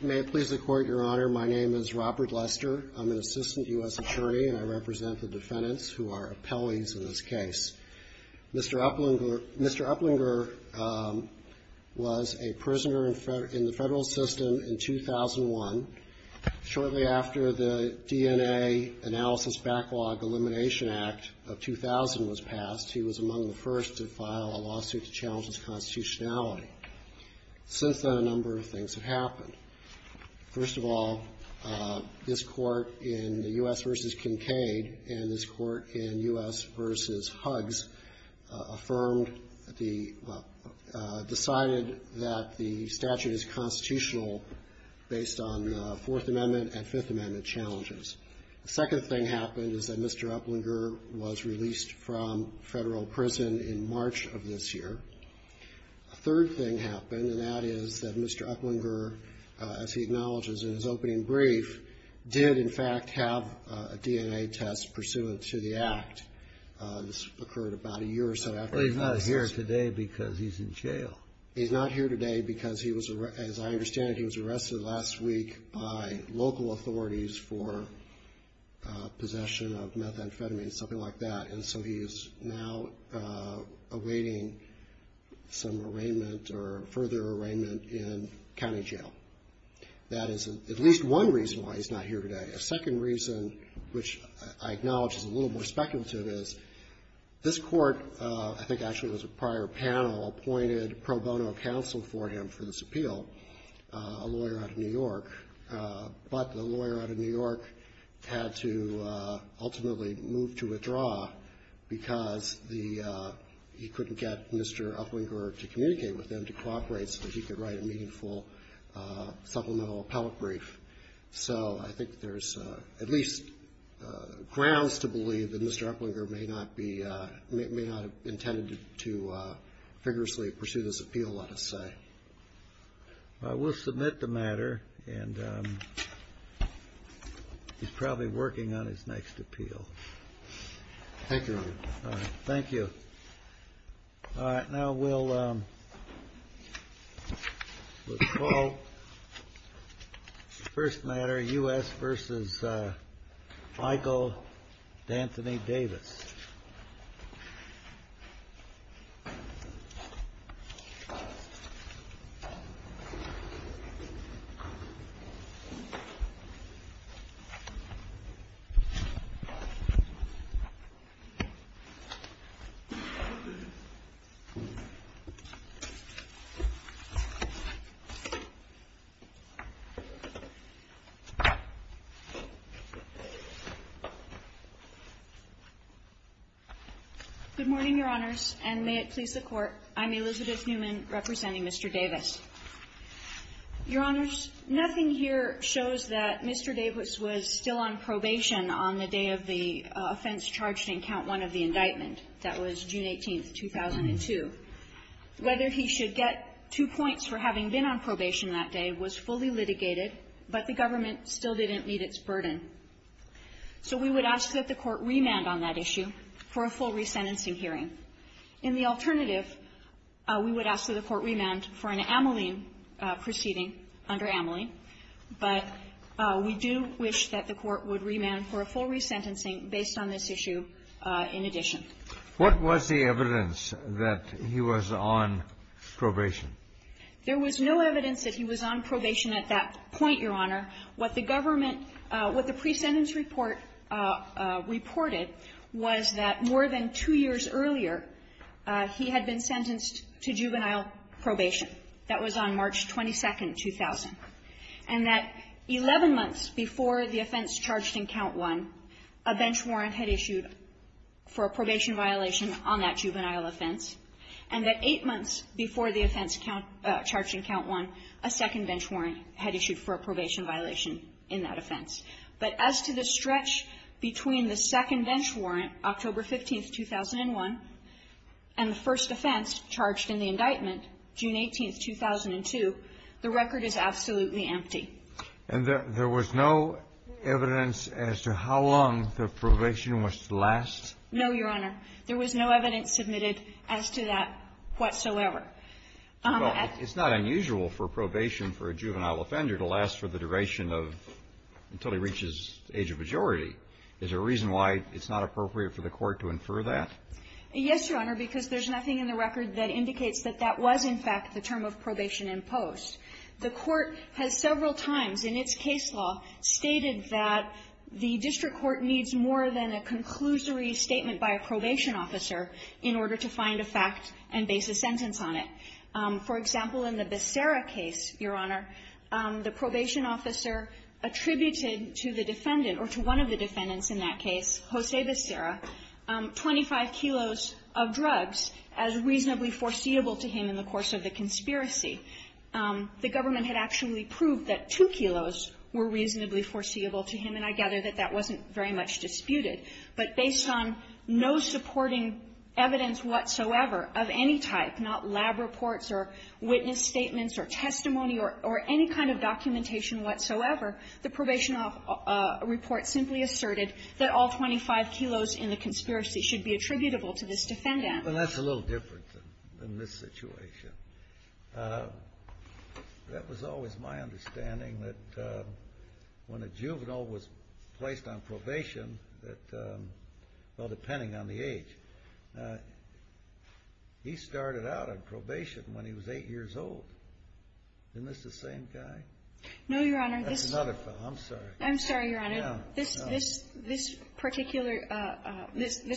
May it please the Court, Your Honor, my name is Robert Lester. I'm an assistant U.S. attorney, and I represent the defendants who are appellees in this case. Mr. Uplinger was a prisoner in the federal system in 2001. Shortly after the DNA Analysis Backlog Elimination Act of 2000 was passed, he was among the first to file a lawsuit to challenge his constitutionality. Since then, a number of things have happened. First of all, this Court in U.S. v. Kincaid and this Court in U.S. v. Huggs affirmed the, decided that the statute is constitutional based on Fourth Amendment and Fifth Amendment challenges. The second thing happened is that Mr. Uplinger was released from federal prison in March of this year. A third thing happened, and that is that Mr. Uplinger, as he acknowledges in his opening brief, did in fact have a DNA test pursuant to the act. This occurred about a year or so after he was released. He's not here today because he's in jail. He's not here today because he was, as I understand it, he was arrested last week by local authorities for possession of methamphetamine, something like that, and so he is now awaiting some arraignment or further arraignment in county jail. That is at least one reason why he's not here today. A second reason, which I acknowledge is a little more speculative, is this Court, I think actually it was a prior panel, appointed pro bono counsel for him for this appeal, a lawyer out of New York, but the lawyer out of New York had to ultimately move to withdraw because the, he couldn't get Mr. Uplinger to communicate with him to cooperate so he could write a meaningful supplemental appellate brief. So I think there's at least grounds to believe that Mr. Uplinger may not be, may not have intended to vigorously pursue this appeal, let us say. We'll submit the matter and he's probably working on his next appeal. Thank you. All right, now we'll call the first matter, U.S. versus Michael D'Anthony Davis. Good morning, Your Honors, and may it please the Court, I'm Elizabeth Newman, representing Mr. Davis. Your Honors, nothing here shows that Mr. Davis was still on probation on the day of the offense charged in count one of the indictment. That was June 18th, 2002. Whether he should get two points for having been on probation that day was fully litigated, but the government still didn't meet its burden. So we would ask that the Court remand on that issue for a full resentencing hearing. In the alternative, we would ask that the Court remand for an ameline proceeding under ameline, but we do wish that the Court would remand for a full resentencing based on this issue in addition. What was the evidence that he was on probation? There was no evidence that he was on probation at that point, Your Honor. What the government – what the pre-sentence report reported was that more than two years earlier, he had been sentenced to juvenile probation. That was on March 22nd, 2000, and that 11 months before the offense charged in count one, a bench warrant had issued for a probation violation on that juvenile offense, and that eight months before the offense charged in count one, a second bench warrant had issued for a probation violation in that offense. But as to the stretch between the second bench warrant, October 15th, 2001, and the first offense charged in the indictment, June 18th, 2002, the record is absolutely empty. And there was no evidence as to how long the probation was to last? No, Your Honor. There was no evidence submitted as to that whatsoever. Well, it's not unusual for probation for a juvenile offender to last for the duration of – until he reaches age of majority. Is there a reason why it's not appropriate for the Court to infer that? Yes, Your Honor, because there's nothing in the record that indicates that that was, in fact, the term of probation in post. The Court has several times in its case law stated that the district court needs more than a conclusory statement by a probation officer in order to find a fact and base a sentence on it. For example, in the Becerra case, Your Honor, the probation officer attributed to the defendant, or to one of the defendants in that case, Jose Becerra, 25 kilos of drugs as reasonably foreseeable to him in the course of the conspiracy. The government had actually proved that two kilos were reasonably foreseeable to him, and I gather that that wasn't very much disputed. But based on no supporting evidence whatsoever of any type, not lab reports or witness statements or testimony or any kind of documentation whatsoever, the probation report simply asserted that all 25 kilos in the conspiracy should be attributable to this defendant. Well, that's a little different in this situation. That was always my understanding that when a juvenile was placed on probation, that, well, depending on the age of the juvenile, depending on the age, he started out on probation when he was 8 years old. Isn't this the same guy? No, Your Honor. That's another fellow. I'm sorry. I'm sorry, Your Honor. No. This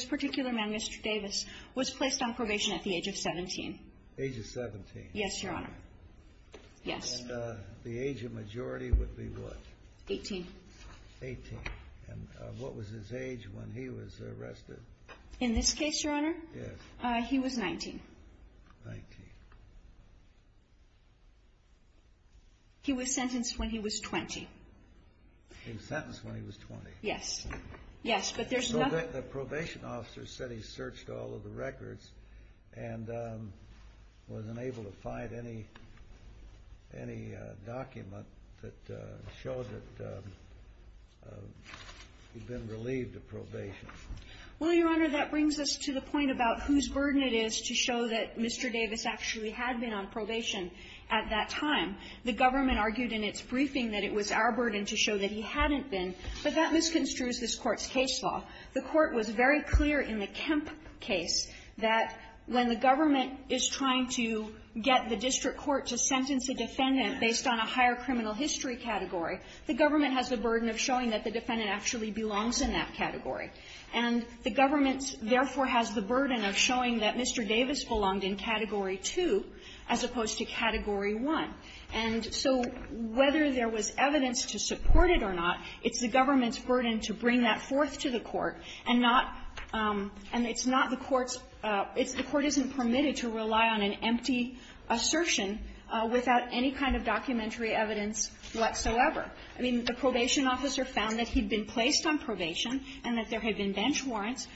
particular man, Mr. Davis, was placed on probation at the age of 17. Age of 17? Yes, Your Honor. Yes. And the age of majority would be what? 18. 18. And what was his age when he was arrested? In this case, Your Honor? Yes. He was 19. 19. He was sentenced when he was 20. He was sentenced when he was 20? Yes. Yes, but there's no... So the probation officer said he searched all of the records and wasn't able to find any document that showed that he'd been relieved of probation. Well, Your Honor, that brings us to the point about whose burden it is to show that Mr. Davis actually had been on probation at that time. The government argued in its briefing that it was our burden to show that he hadn't been, but that misconstrues this Court's case law. The Court was very clear in the Kemp case that when the government is trying to get the district court to sentence a defendant based on a higher criminal history category, the government has the burden of showing that the defendant actually belongs in that category. And the government, therefore, has the burden of showing that Mr. Davis belonged in Category 2 as opposed to Category 1. And so whether there was evidence to support it or not, it's the government's burden to bring that forth to the Court and not — and it's not the Court's — the Court isn't permitted to rely on an empty assertion without any kind of documentary evidence whatsoever. I mean, the probation officer found that he'd been placed on probation and that there had been bench warrants.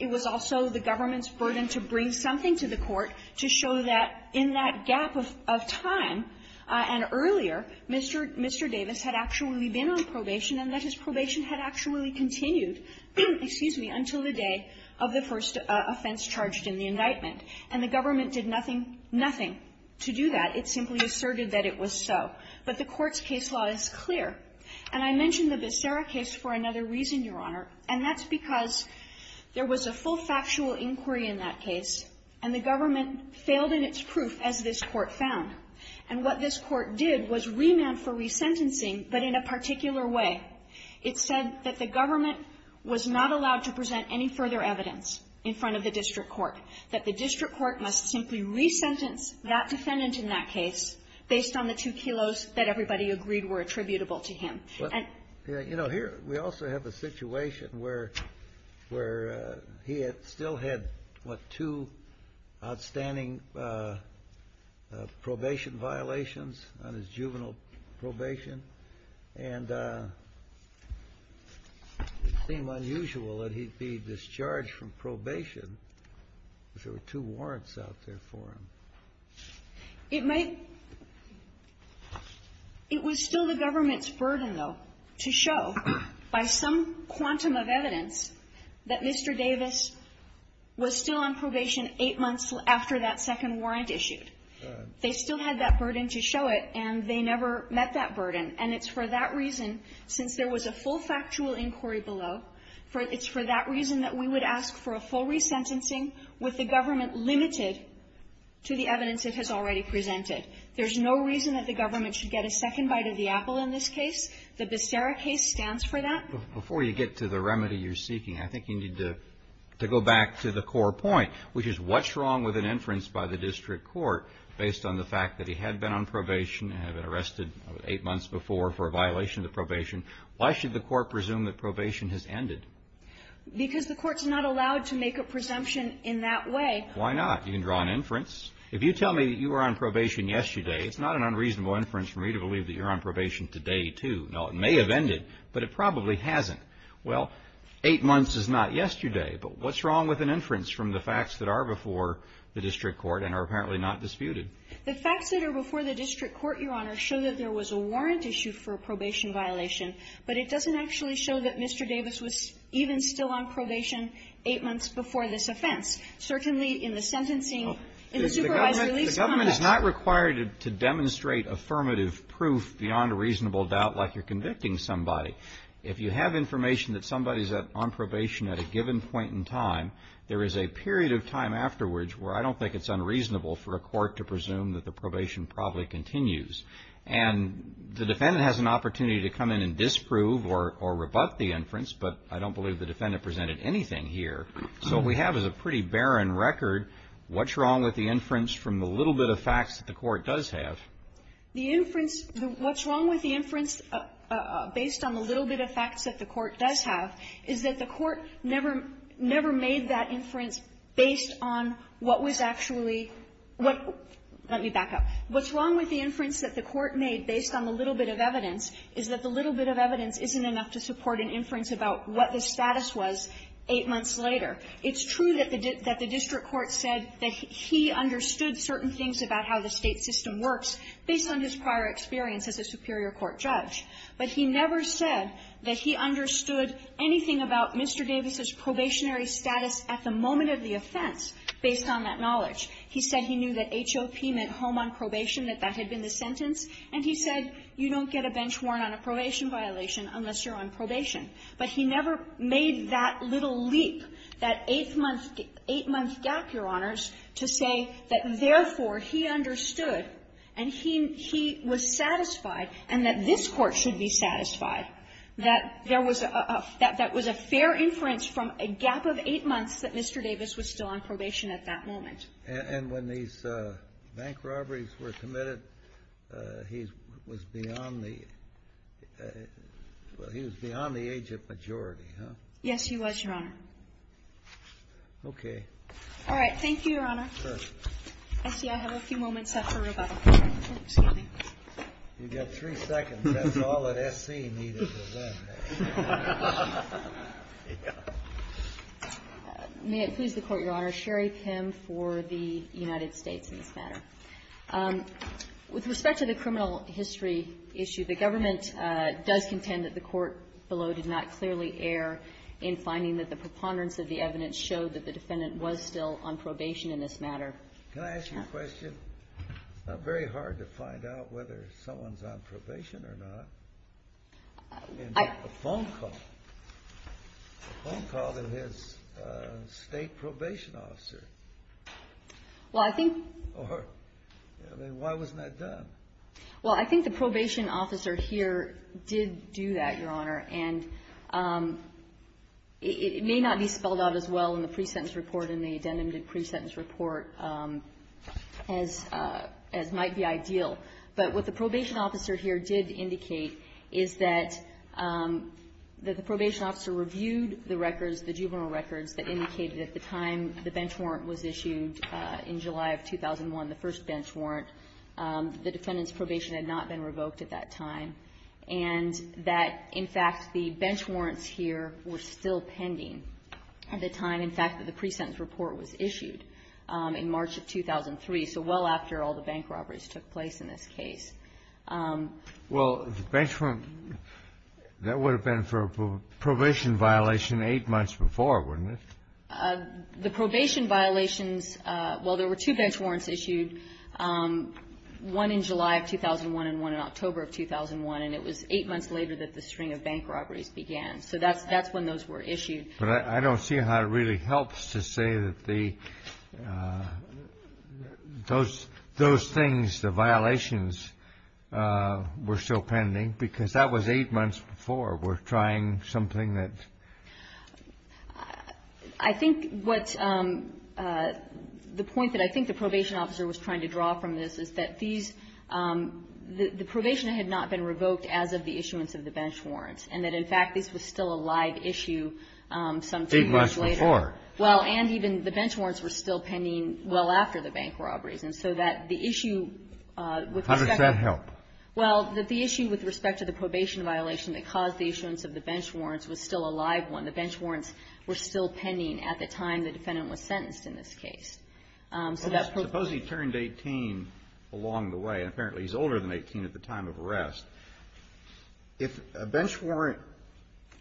It was also the government's burden to bring something to the Court to show that in that gap of time and earlier, Mr. — Mr. Davis had actually been on probation and that his probation had actually continued — excuse me — until the day of the first offense charged in the indictment. And the government did nothing — nothing to do that. It simply asserted that it was so. But the Court's case law is clear. And I mentioned the Becerra case for another reason, Your Honor, and that's because there was a full factual inquiry in that case, and the government failed in its proof, as this Court found. And what this Court did was remand for resentencing, but in a particular way. It said that the government was not allowed to present any further evidence in front of the district court, that the district court must simply resentence that defendant in that case based on the two kilos that everybody agreed were attributable to him. And — You know, here, we also have a situation where — where he had still had, what, two outstanding probation violations on his juvenile probation, and it seemed unusual that he'd be discharged from probation because there were two warrants out there for him. It might — it was still the government's burden, though, to show by some eight months after that second warrant issued. They still had that burden to show it, and they never met that burden. And it's for that reason, since there was a full factual inquiry below, it's for that reason that we would ask for a full resentencing with the government limited to the evidence it has already presented. There's no reason that the government should get a second bite of the apple in this case. The Becerra case stands for that. Before you get to the remedy you're seeking, I think you need to — to go back to the core point, which is what's wrong with an inference by the district court based on the fact that he had been on probation and had been arrested eight months before for a violation of the probation? Why should the court presume that probation has ended? Because the court's not allowed to make a presumption in that way. Why not? You can draw an inference. If you tell me that you were on probation yesterday, it's not an unreasonable inference for me to believe that you're on probation today, too. Now, it may have ended, but it probably hasn't. Well, eight months is not yesterday. But what's wrong with an inference from the facts that are before the district court and are apparently not disputed? The facts that are before the district court, Your Honor, show that there was a warrant issue for a probation violation, but it doesn't actually show that Mr. Davis was even still on probation eight months before this offense, certainly in the sentencing in the supervised release context. The government is not required to demonstrate affirmative proof beyond a reasonable doubt like you're convicting somebody. If you have information that somebody's on probation at a given point in time, there is a period of time afterwards where I don't think it's unreasonable for a court to presume that the probation probably continues. And the defendant has an opportunity to come in and disprove or rebut the inference, but I don't believe the defendant presented anything here. So what we have is a pretty barren record. What's wrong with the inference from the little bit of facts that the court does have? The inference, what's wrong with the inference based on the little bit of facts that the court does have is that the court never, never made that inference based on what was actually, what let me back up. What's wrong with the inference that the court made based on the little bit of evidence is that the little bit of evidence isn't enough to support an inference about what the status was eight months later. It's true that the district court said that he understood certain things about how the State system works based on his prior experience as a superior court judge. But he never said that he understood anything about Mr. Davis' probationary status at the moment of the offense based on that knowledge. He said he knew that HOP meant home on probation, that that had been the sentence. And he said you don't get a bench warrant on a probation violation unless you're on probation. But he never made that little leap, that eight-month gap, Your Honors, to say that, therefore, he understood, and he was satisfied, and that this Court should be satisfied, that there was a fair inference from a gap of eight months that Mr. Davis was still on probation at that moment. And when these bank robberies were committed, he was beyond the age of majority, huh? Yes, he was, Your Honor. Okay. All right. Thank you, Your Honor. Sure. I see I have a few moments left for rebuttal. Excuse me. You've got three seconds. That's all that S.C. needed to win. May it please the Court, Your Honor. Sherry Pim for the United States in this matter. With respect to the criminal history issue, the government does contend that the court below did not clearly err in finding that the preponderance of the evidence showed that the defendant was still on probation in this matter. Can I ask you a question? It's not very hard to find out whether someone's on probation or not. I mean, a phone call. A phone call to his State probation officer. Well, I think or why wasn't that done? Well, I think the probation officer here did do that, Your Honor. And it may not be spelled out as well in the pre-sentence report and the addendum to the pre-sentence report as might be ideal. But what the probation officer here did indicate is that the probation officer reviewed the records, the juvenile records that indicated at the time the bench warrant was issued in July of 2001, the first bench warrant, the defendant's probation had not been revoked at that time. And that, in fact, the bench warrants here were still pending at the time, in fact, that the pre-sentence report was issued in March of 2003, so well after all the bank robberies took place in this case. Well, the bench warrant, that would have been for a probation violation eight months before, wouldn't it? The probation violations, well, there were two bench warrants issued, one in July of 2001 and one in October of 2001. And it was eight months later that the string of bank robberies began. So that's when those were issued. But I don't see how it really helps to say that the those things, the violations were still pending, because that was eight months before. We're trying something that's ---- I think what's the point that I think the probation officer was trying to draw from this is that these, the probation had not been revoked as of the issuance of the bench warrants were still pending well after the bank robberies. And so that the issue with respect to ---- How does that help? Well, that the issue with respect to the probation violation that caused the issuance of the bench warrants was still a live one. The bench warrants were still pending at the time the defendant was sentenced in this case. Suppose he turned 18 along the way, and apparently he's older than 18 at the time of arrest. If a bench warrant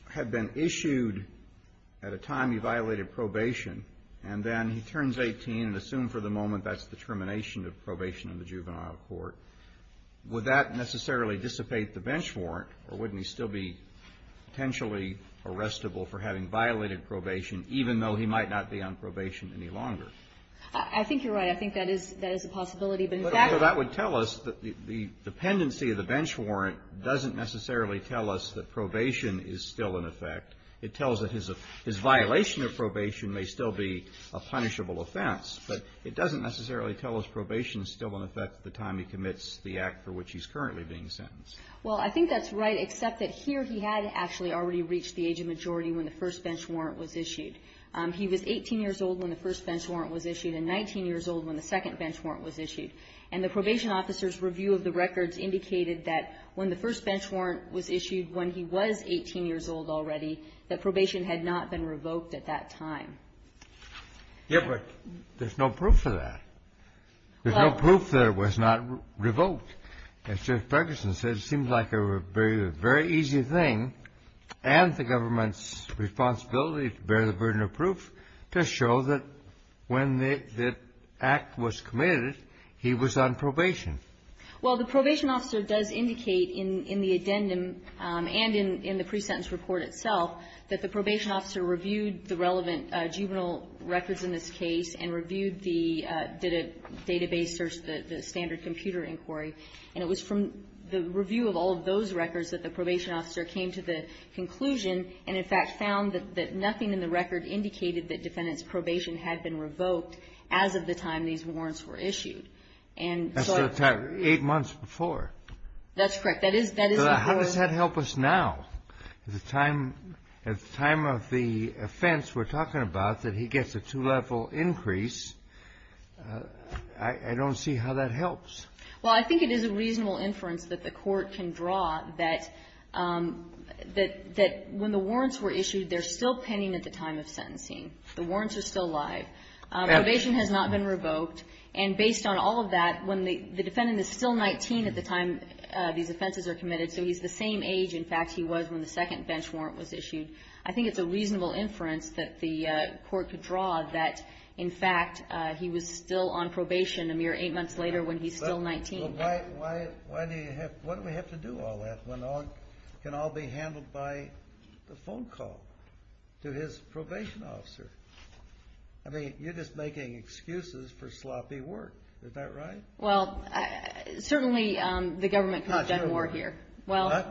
had been issued at a time he violated probation, and then he turns 18 and assumed for the moment that's the termination of probation in the juvenile court, would that necessarily dissipate the bench warrant, or wouldn't he still be potentially arrestable for having violated probation, even though he might not be on probation any longer? I think you're right. I think that is a possibility. But that would tell us that the dependency of the bench warrant doesn't necessarily tell us that probation is still in effect. It tells that his violation of probation may still be a punishable offense. But it doesn't necessarily tell us probation is still in effect at the time he commits the act for which he's currently being sentenced. Well, I think that's right, except that here he had actually already reached the age of majority when the first bench warrant was issued. He was 18 years old when the first bench warrant was issued and 19 years old when the first bench warrant was issued. And the probation officer's review of the records indicated that when the first bench warrant was issued when he was 18 years old already, that probation had not been revoked at that time. Yes, but there's no proof of that. There's no proof that it was not revoked. And Judge Ferguson said it seems like a very easy thing, and the government's responsibility to bear the burden of proof, to show that when the act was committed, he was on probation. Well, the probation officer does indicate in the addendum and in the pre-sentence report itself that the probation officer reviewed the relevant juvenile records in this case and reviewed the database search, the standard computer inquiry. And it was from the review of all of those records that the probation officer came to the conclusion and, in fact, found that nothing in the record indicated that defendant's probation had been revoked as of the time these warrants were issued. And so at the time of the offense, we're talking about that he gets a two-level increase. I don't see how that helps. Well, I think it is a reasonable inference that the Court can draw that when the warrants are still live. Probation has not been revoked. And based on all of that, when the defendant is still 19 at the time these offenses are committed, so he's the same age, in fact, he was when the second bench warrant was issued, I think it's a reasonable inference that the Court could draw that, in fact, he was still on probation a mere eight months later when he's still 19. Well, why do you have to do all that when it can all be handled by the phone call to his probation officer? I mean, you're just making excuses for sloppy work. Is that right? Well, certainly the government could have done more here. Well, I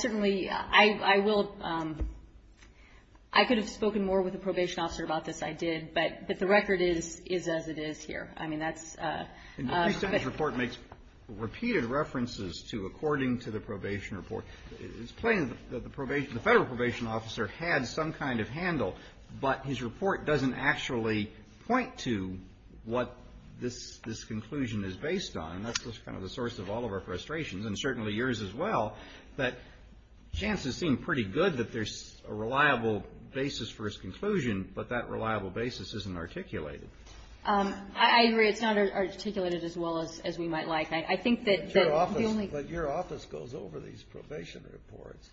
certainly, I will. I could have spoken more with the probation officer about this. I did. But the record is as it is here. I mean, that's the case. It's plain that the federal probation officer had some kind of handle, but his report doesn't actually point to what this conclusion is based on. And that's just kind of the source of all of our frustrations, and certainly yours as well, that chances seem pretty good that there's a reliable basis for his conclusion, but that reliable basis isn't articulated. I agree. It's not articulated as well as we might like. But your office goes over these probation reports,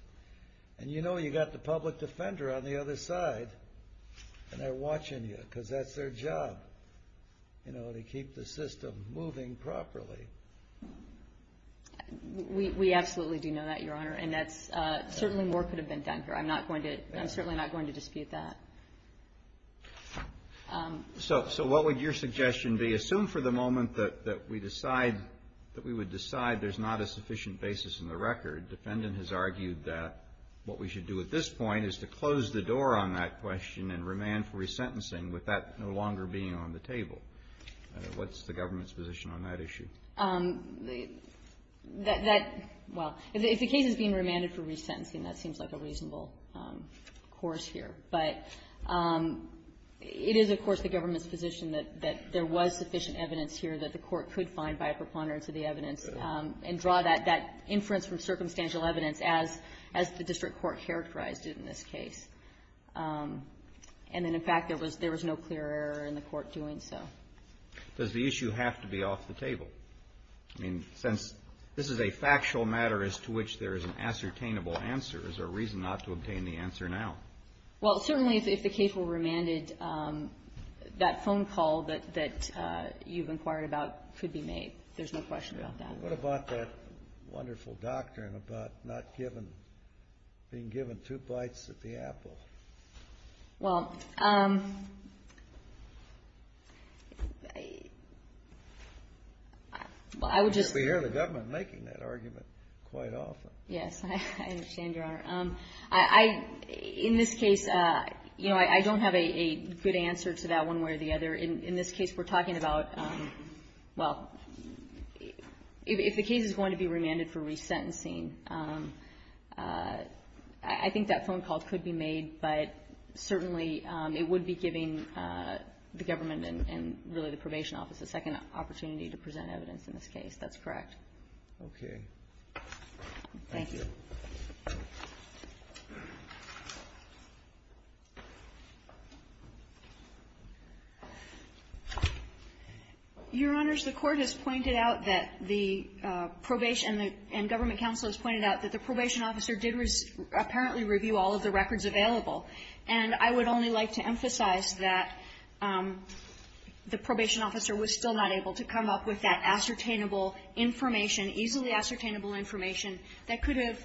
and you know you've got the public defender on the other side, and they're watching you because that's their job, you know, to keep the system moving properly. We absolutely do know that, Your Honor, and certainly more could have been done here. I'm certainly not going to dispute that. So what would your suggestion be? If we assume for the moment that we decide, that we would decide there's not a sufficient basis in the record, defendant has argued that what we should do at this point is to close the door on that question and remand for resentencing with that no longer being on the table. What's the government's position on that issue? That, well, if the case is being remanded for resentencing, that seems like a reasonable course here. But it is, of course, the government's position that there was sufficient evidence here that the Court could find by a preponderance of the evidence and draw that inference from circumstantial evidence as the district court characterized it in this case. And then, in fact, there was no clear error in the Court doing so. Does the issue have to be off the table? I mean, since this is a factual matter as to which there is an ascertainable answer, is there a reason not to obtain the answer now? Well, certainly, if the case were remanded, that phone call that you've inquired about could be made. There's no question about that. What about that wonderful doctrine about not given, being given two bites at the apple? Well, I would just say the government making that argument quite often. Yes. I understand, Your Honor. In this case, you know, I don't have a good answer to that one way or the other. In this case, we're talking about, well, if the case is going to be remanded for resentencing, I think that phone call could be made, but certainly it would be giving the government and really the Probation Office a second opportunity to present evidence in this case. That's correct. Okay. Thank you. Your Honors, the Court has pointed out that the probation and the government counsel has pointed out that the Probation Officer did apparently review all of the records available, and I would only like to emphasize that the Probation Officer was still not able to come up with that ascertainable information, easily ascertainable information that could have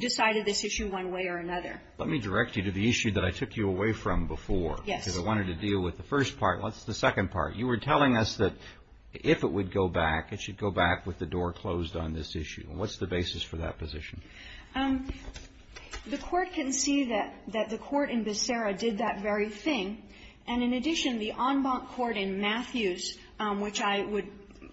decided this issue one way or another. Let me direct you to the issue that I took you away from before. Yes. Because I wanted to deal with the first part. What's the second part? You were telling us that if it would go back, it should go back with the door closed on this issue. What's the basis for that position? The Court can see that the Court in Becerra did that very thing, and in addition, the en banc court in Matthews, which I would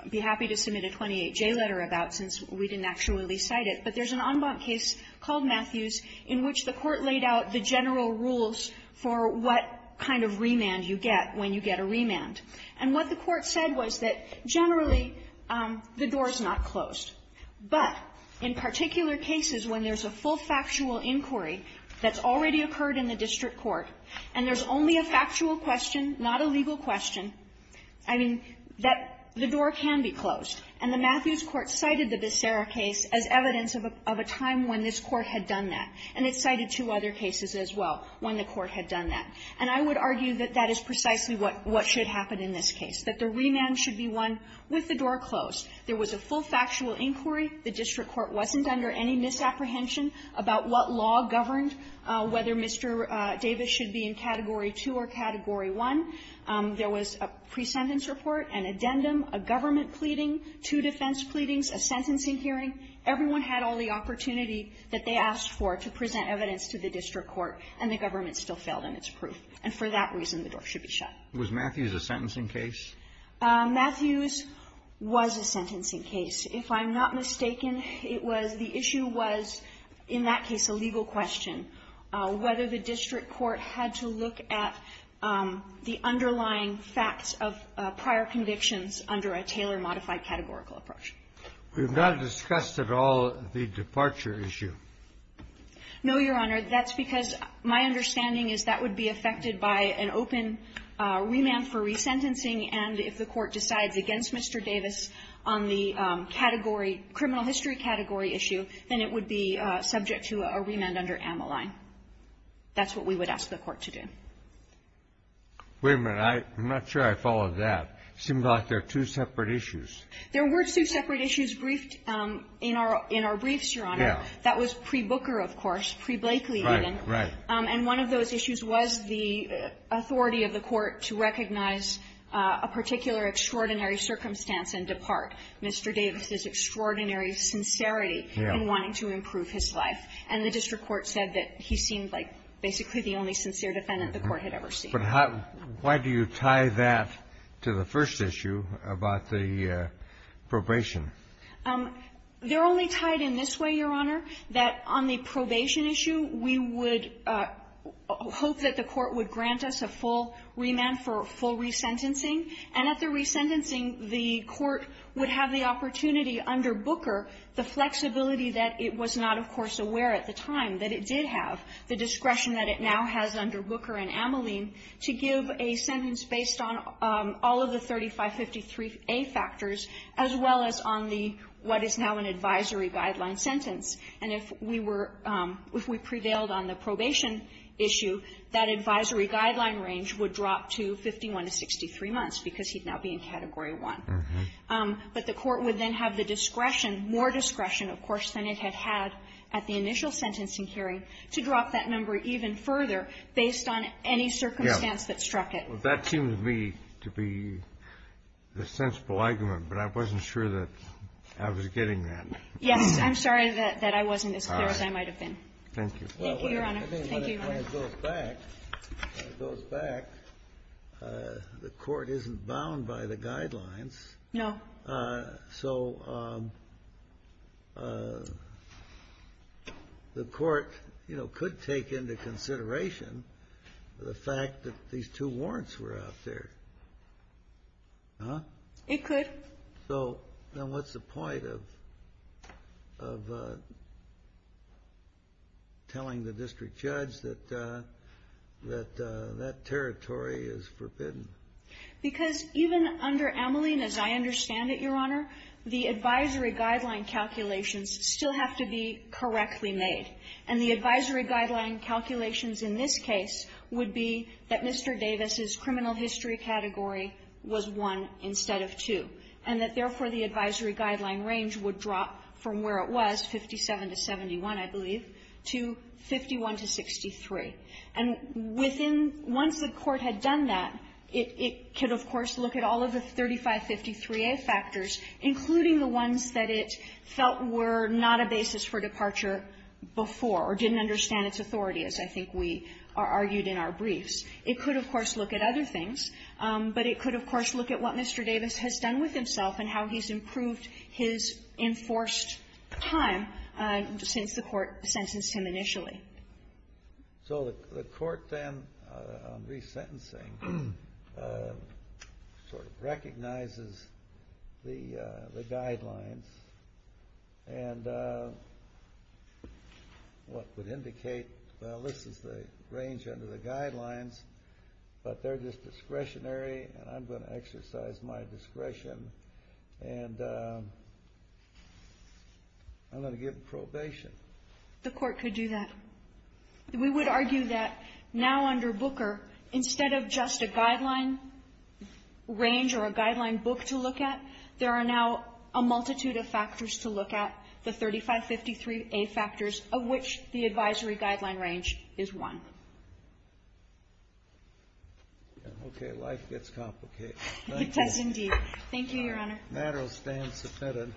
be happy to submit a 28J letter about since we didn't actually cite it, but there's an en banc case called Matthews in which the Court laid out the general rules for what kind of remand you get when you get a remand. And what the Court said was that generally the door is not closed, but in particular cases when there's a full factual inquiry that's already occurred in the district court, and there's only a factual question, not a legal question, I mean, that the door can be closed. And the Matthews court cited the Becerra case as evidence of a time when this court had done that. And it cited two other cases as well when the court had done that. And I would argue that that is precisely what should happen in this case, that the remand should be won with the door closed. There was a full factual inquiry. The district court wasn't under any misapprehension about what law governed whether Mr. Davis should be in Category 2 or Category 1. There was a pre-sentence report, an addendum, a government pleading, two defense pleadings, a sentencing hearing. Everyone had all the opportunity that they asked for to present evidence to the district court, and the government still failed in its proof. And for that reason, the door should be shut. Alitoso, was Matthews a sentencing case? Matthews was a sentencing case. If I'm not mistaken, it was the issue was, in that case, a legal question. Whether the district court had to look at the underlying facts of prior convictions under a Taylor-modified categorical approach. We've not discussed at all the departure issue. No, Your Honor. That's because my understanding is that would be affected by an open remand for resentencing. And if the court decides against Mr. Davis on the category, criminal history category issue, then it would be subject to a remand under Ammoline. That's what we would ask the court to do. Wait a minute. I'm not sure I followed that. It seemed like they're two separate issues. There were two separate issues briefed in our briefs, Your Honor. Yeah. That was pre-Booker, of course, pre-Blakely even. Right. And one of those issues was the authority of the court to recognize a particular extraordinary circumstance and depart. Mr. Davis's extraordinary sincerity in wanting to improve his life. And the district court said that he seemed like basically the only sincere defendant the court had ever seen. But how do you tie that to the first issue about the probation? They're only tied in this way, Your Honor, that on the probation issue, we would hope that the court would grant us a full remand for full resentencing. And at the resentencing, the court would have the opportunity under Booker, the flexibility that it was not, of course, aware at the time that it did have, the discretion that it now has under Booker and Ammoline, to give a sentence based on all of the 3553a factors as well as on the what is now an advisory guideline sentence. And if we were – if we prevailed on the probation issue, that advisory guideline range would drop to 51 to 63 months, because he'd now be in Category 1. But the court would then have the discretion, more discretion, of course, than it had had at the initial sentencing hearing, to drop that number even further based on any circumstance that struck it. That seems to me to be the sensible argument, but I wasn't sure that I was getting that. Yes. I'm sorry that I wasn't as clear as I might have been. Thank you. Thank you, Your Honor. Thank you. When it goes back, when it goes back, the court isn't bound by the guidelines. No. So the court, you know, could take into consideration the fact that these two warrants were out there. Huh? It could. So then what's the point of telling the district judge that that territory is forbidden? Because even under Ameline, as I understand it, Your Honor, the advisory guideline calculations still have to be correctly made. And the advisory guideline calculations in this case would be that Mr. Davis's And that, therefore, the advisory guideline range would drop from where it was, 57 to 71, I believe, to 51 to 63. And within one set court had done that, it could, of course, look at all of the 3553a factors, including the ones that it felt were not a basis for departure before or didn't understand its authority, as I think we argued in our briefs. It could, of course, look at other things, but it could, of course, look at what Mr. Davis has done for himself and how he's improved his enforced time since the court sentenced him initially. So the court then, on resentencing, sort of recognizes the guidelines and what would indicate, well, this is the range under the guidelines, but they're just discretionary, and I'm going to exercise my discretion, and I'm going to give probation. The court could do that. We would argue that now under Booker, instead of just a guideline range or a guideline book to look at, there are now a multitude of factors to look at, the 3553a factors, of which the advisory guideline range is one. Okay. Life gets complicated. Thank you. It does, indeed. Thank you, Your Honor. The matter will stand submitted.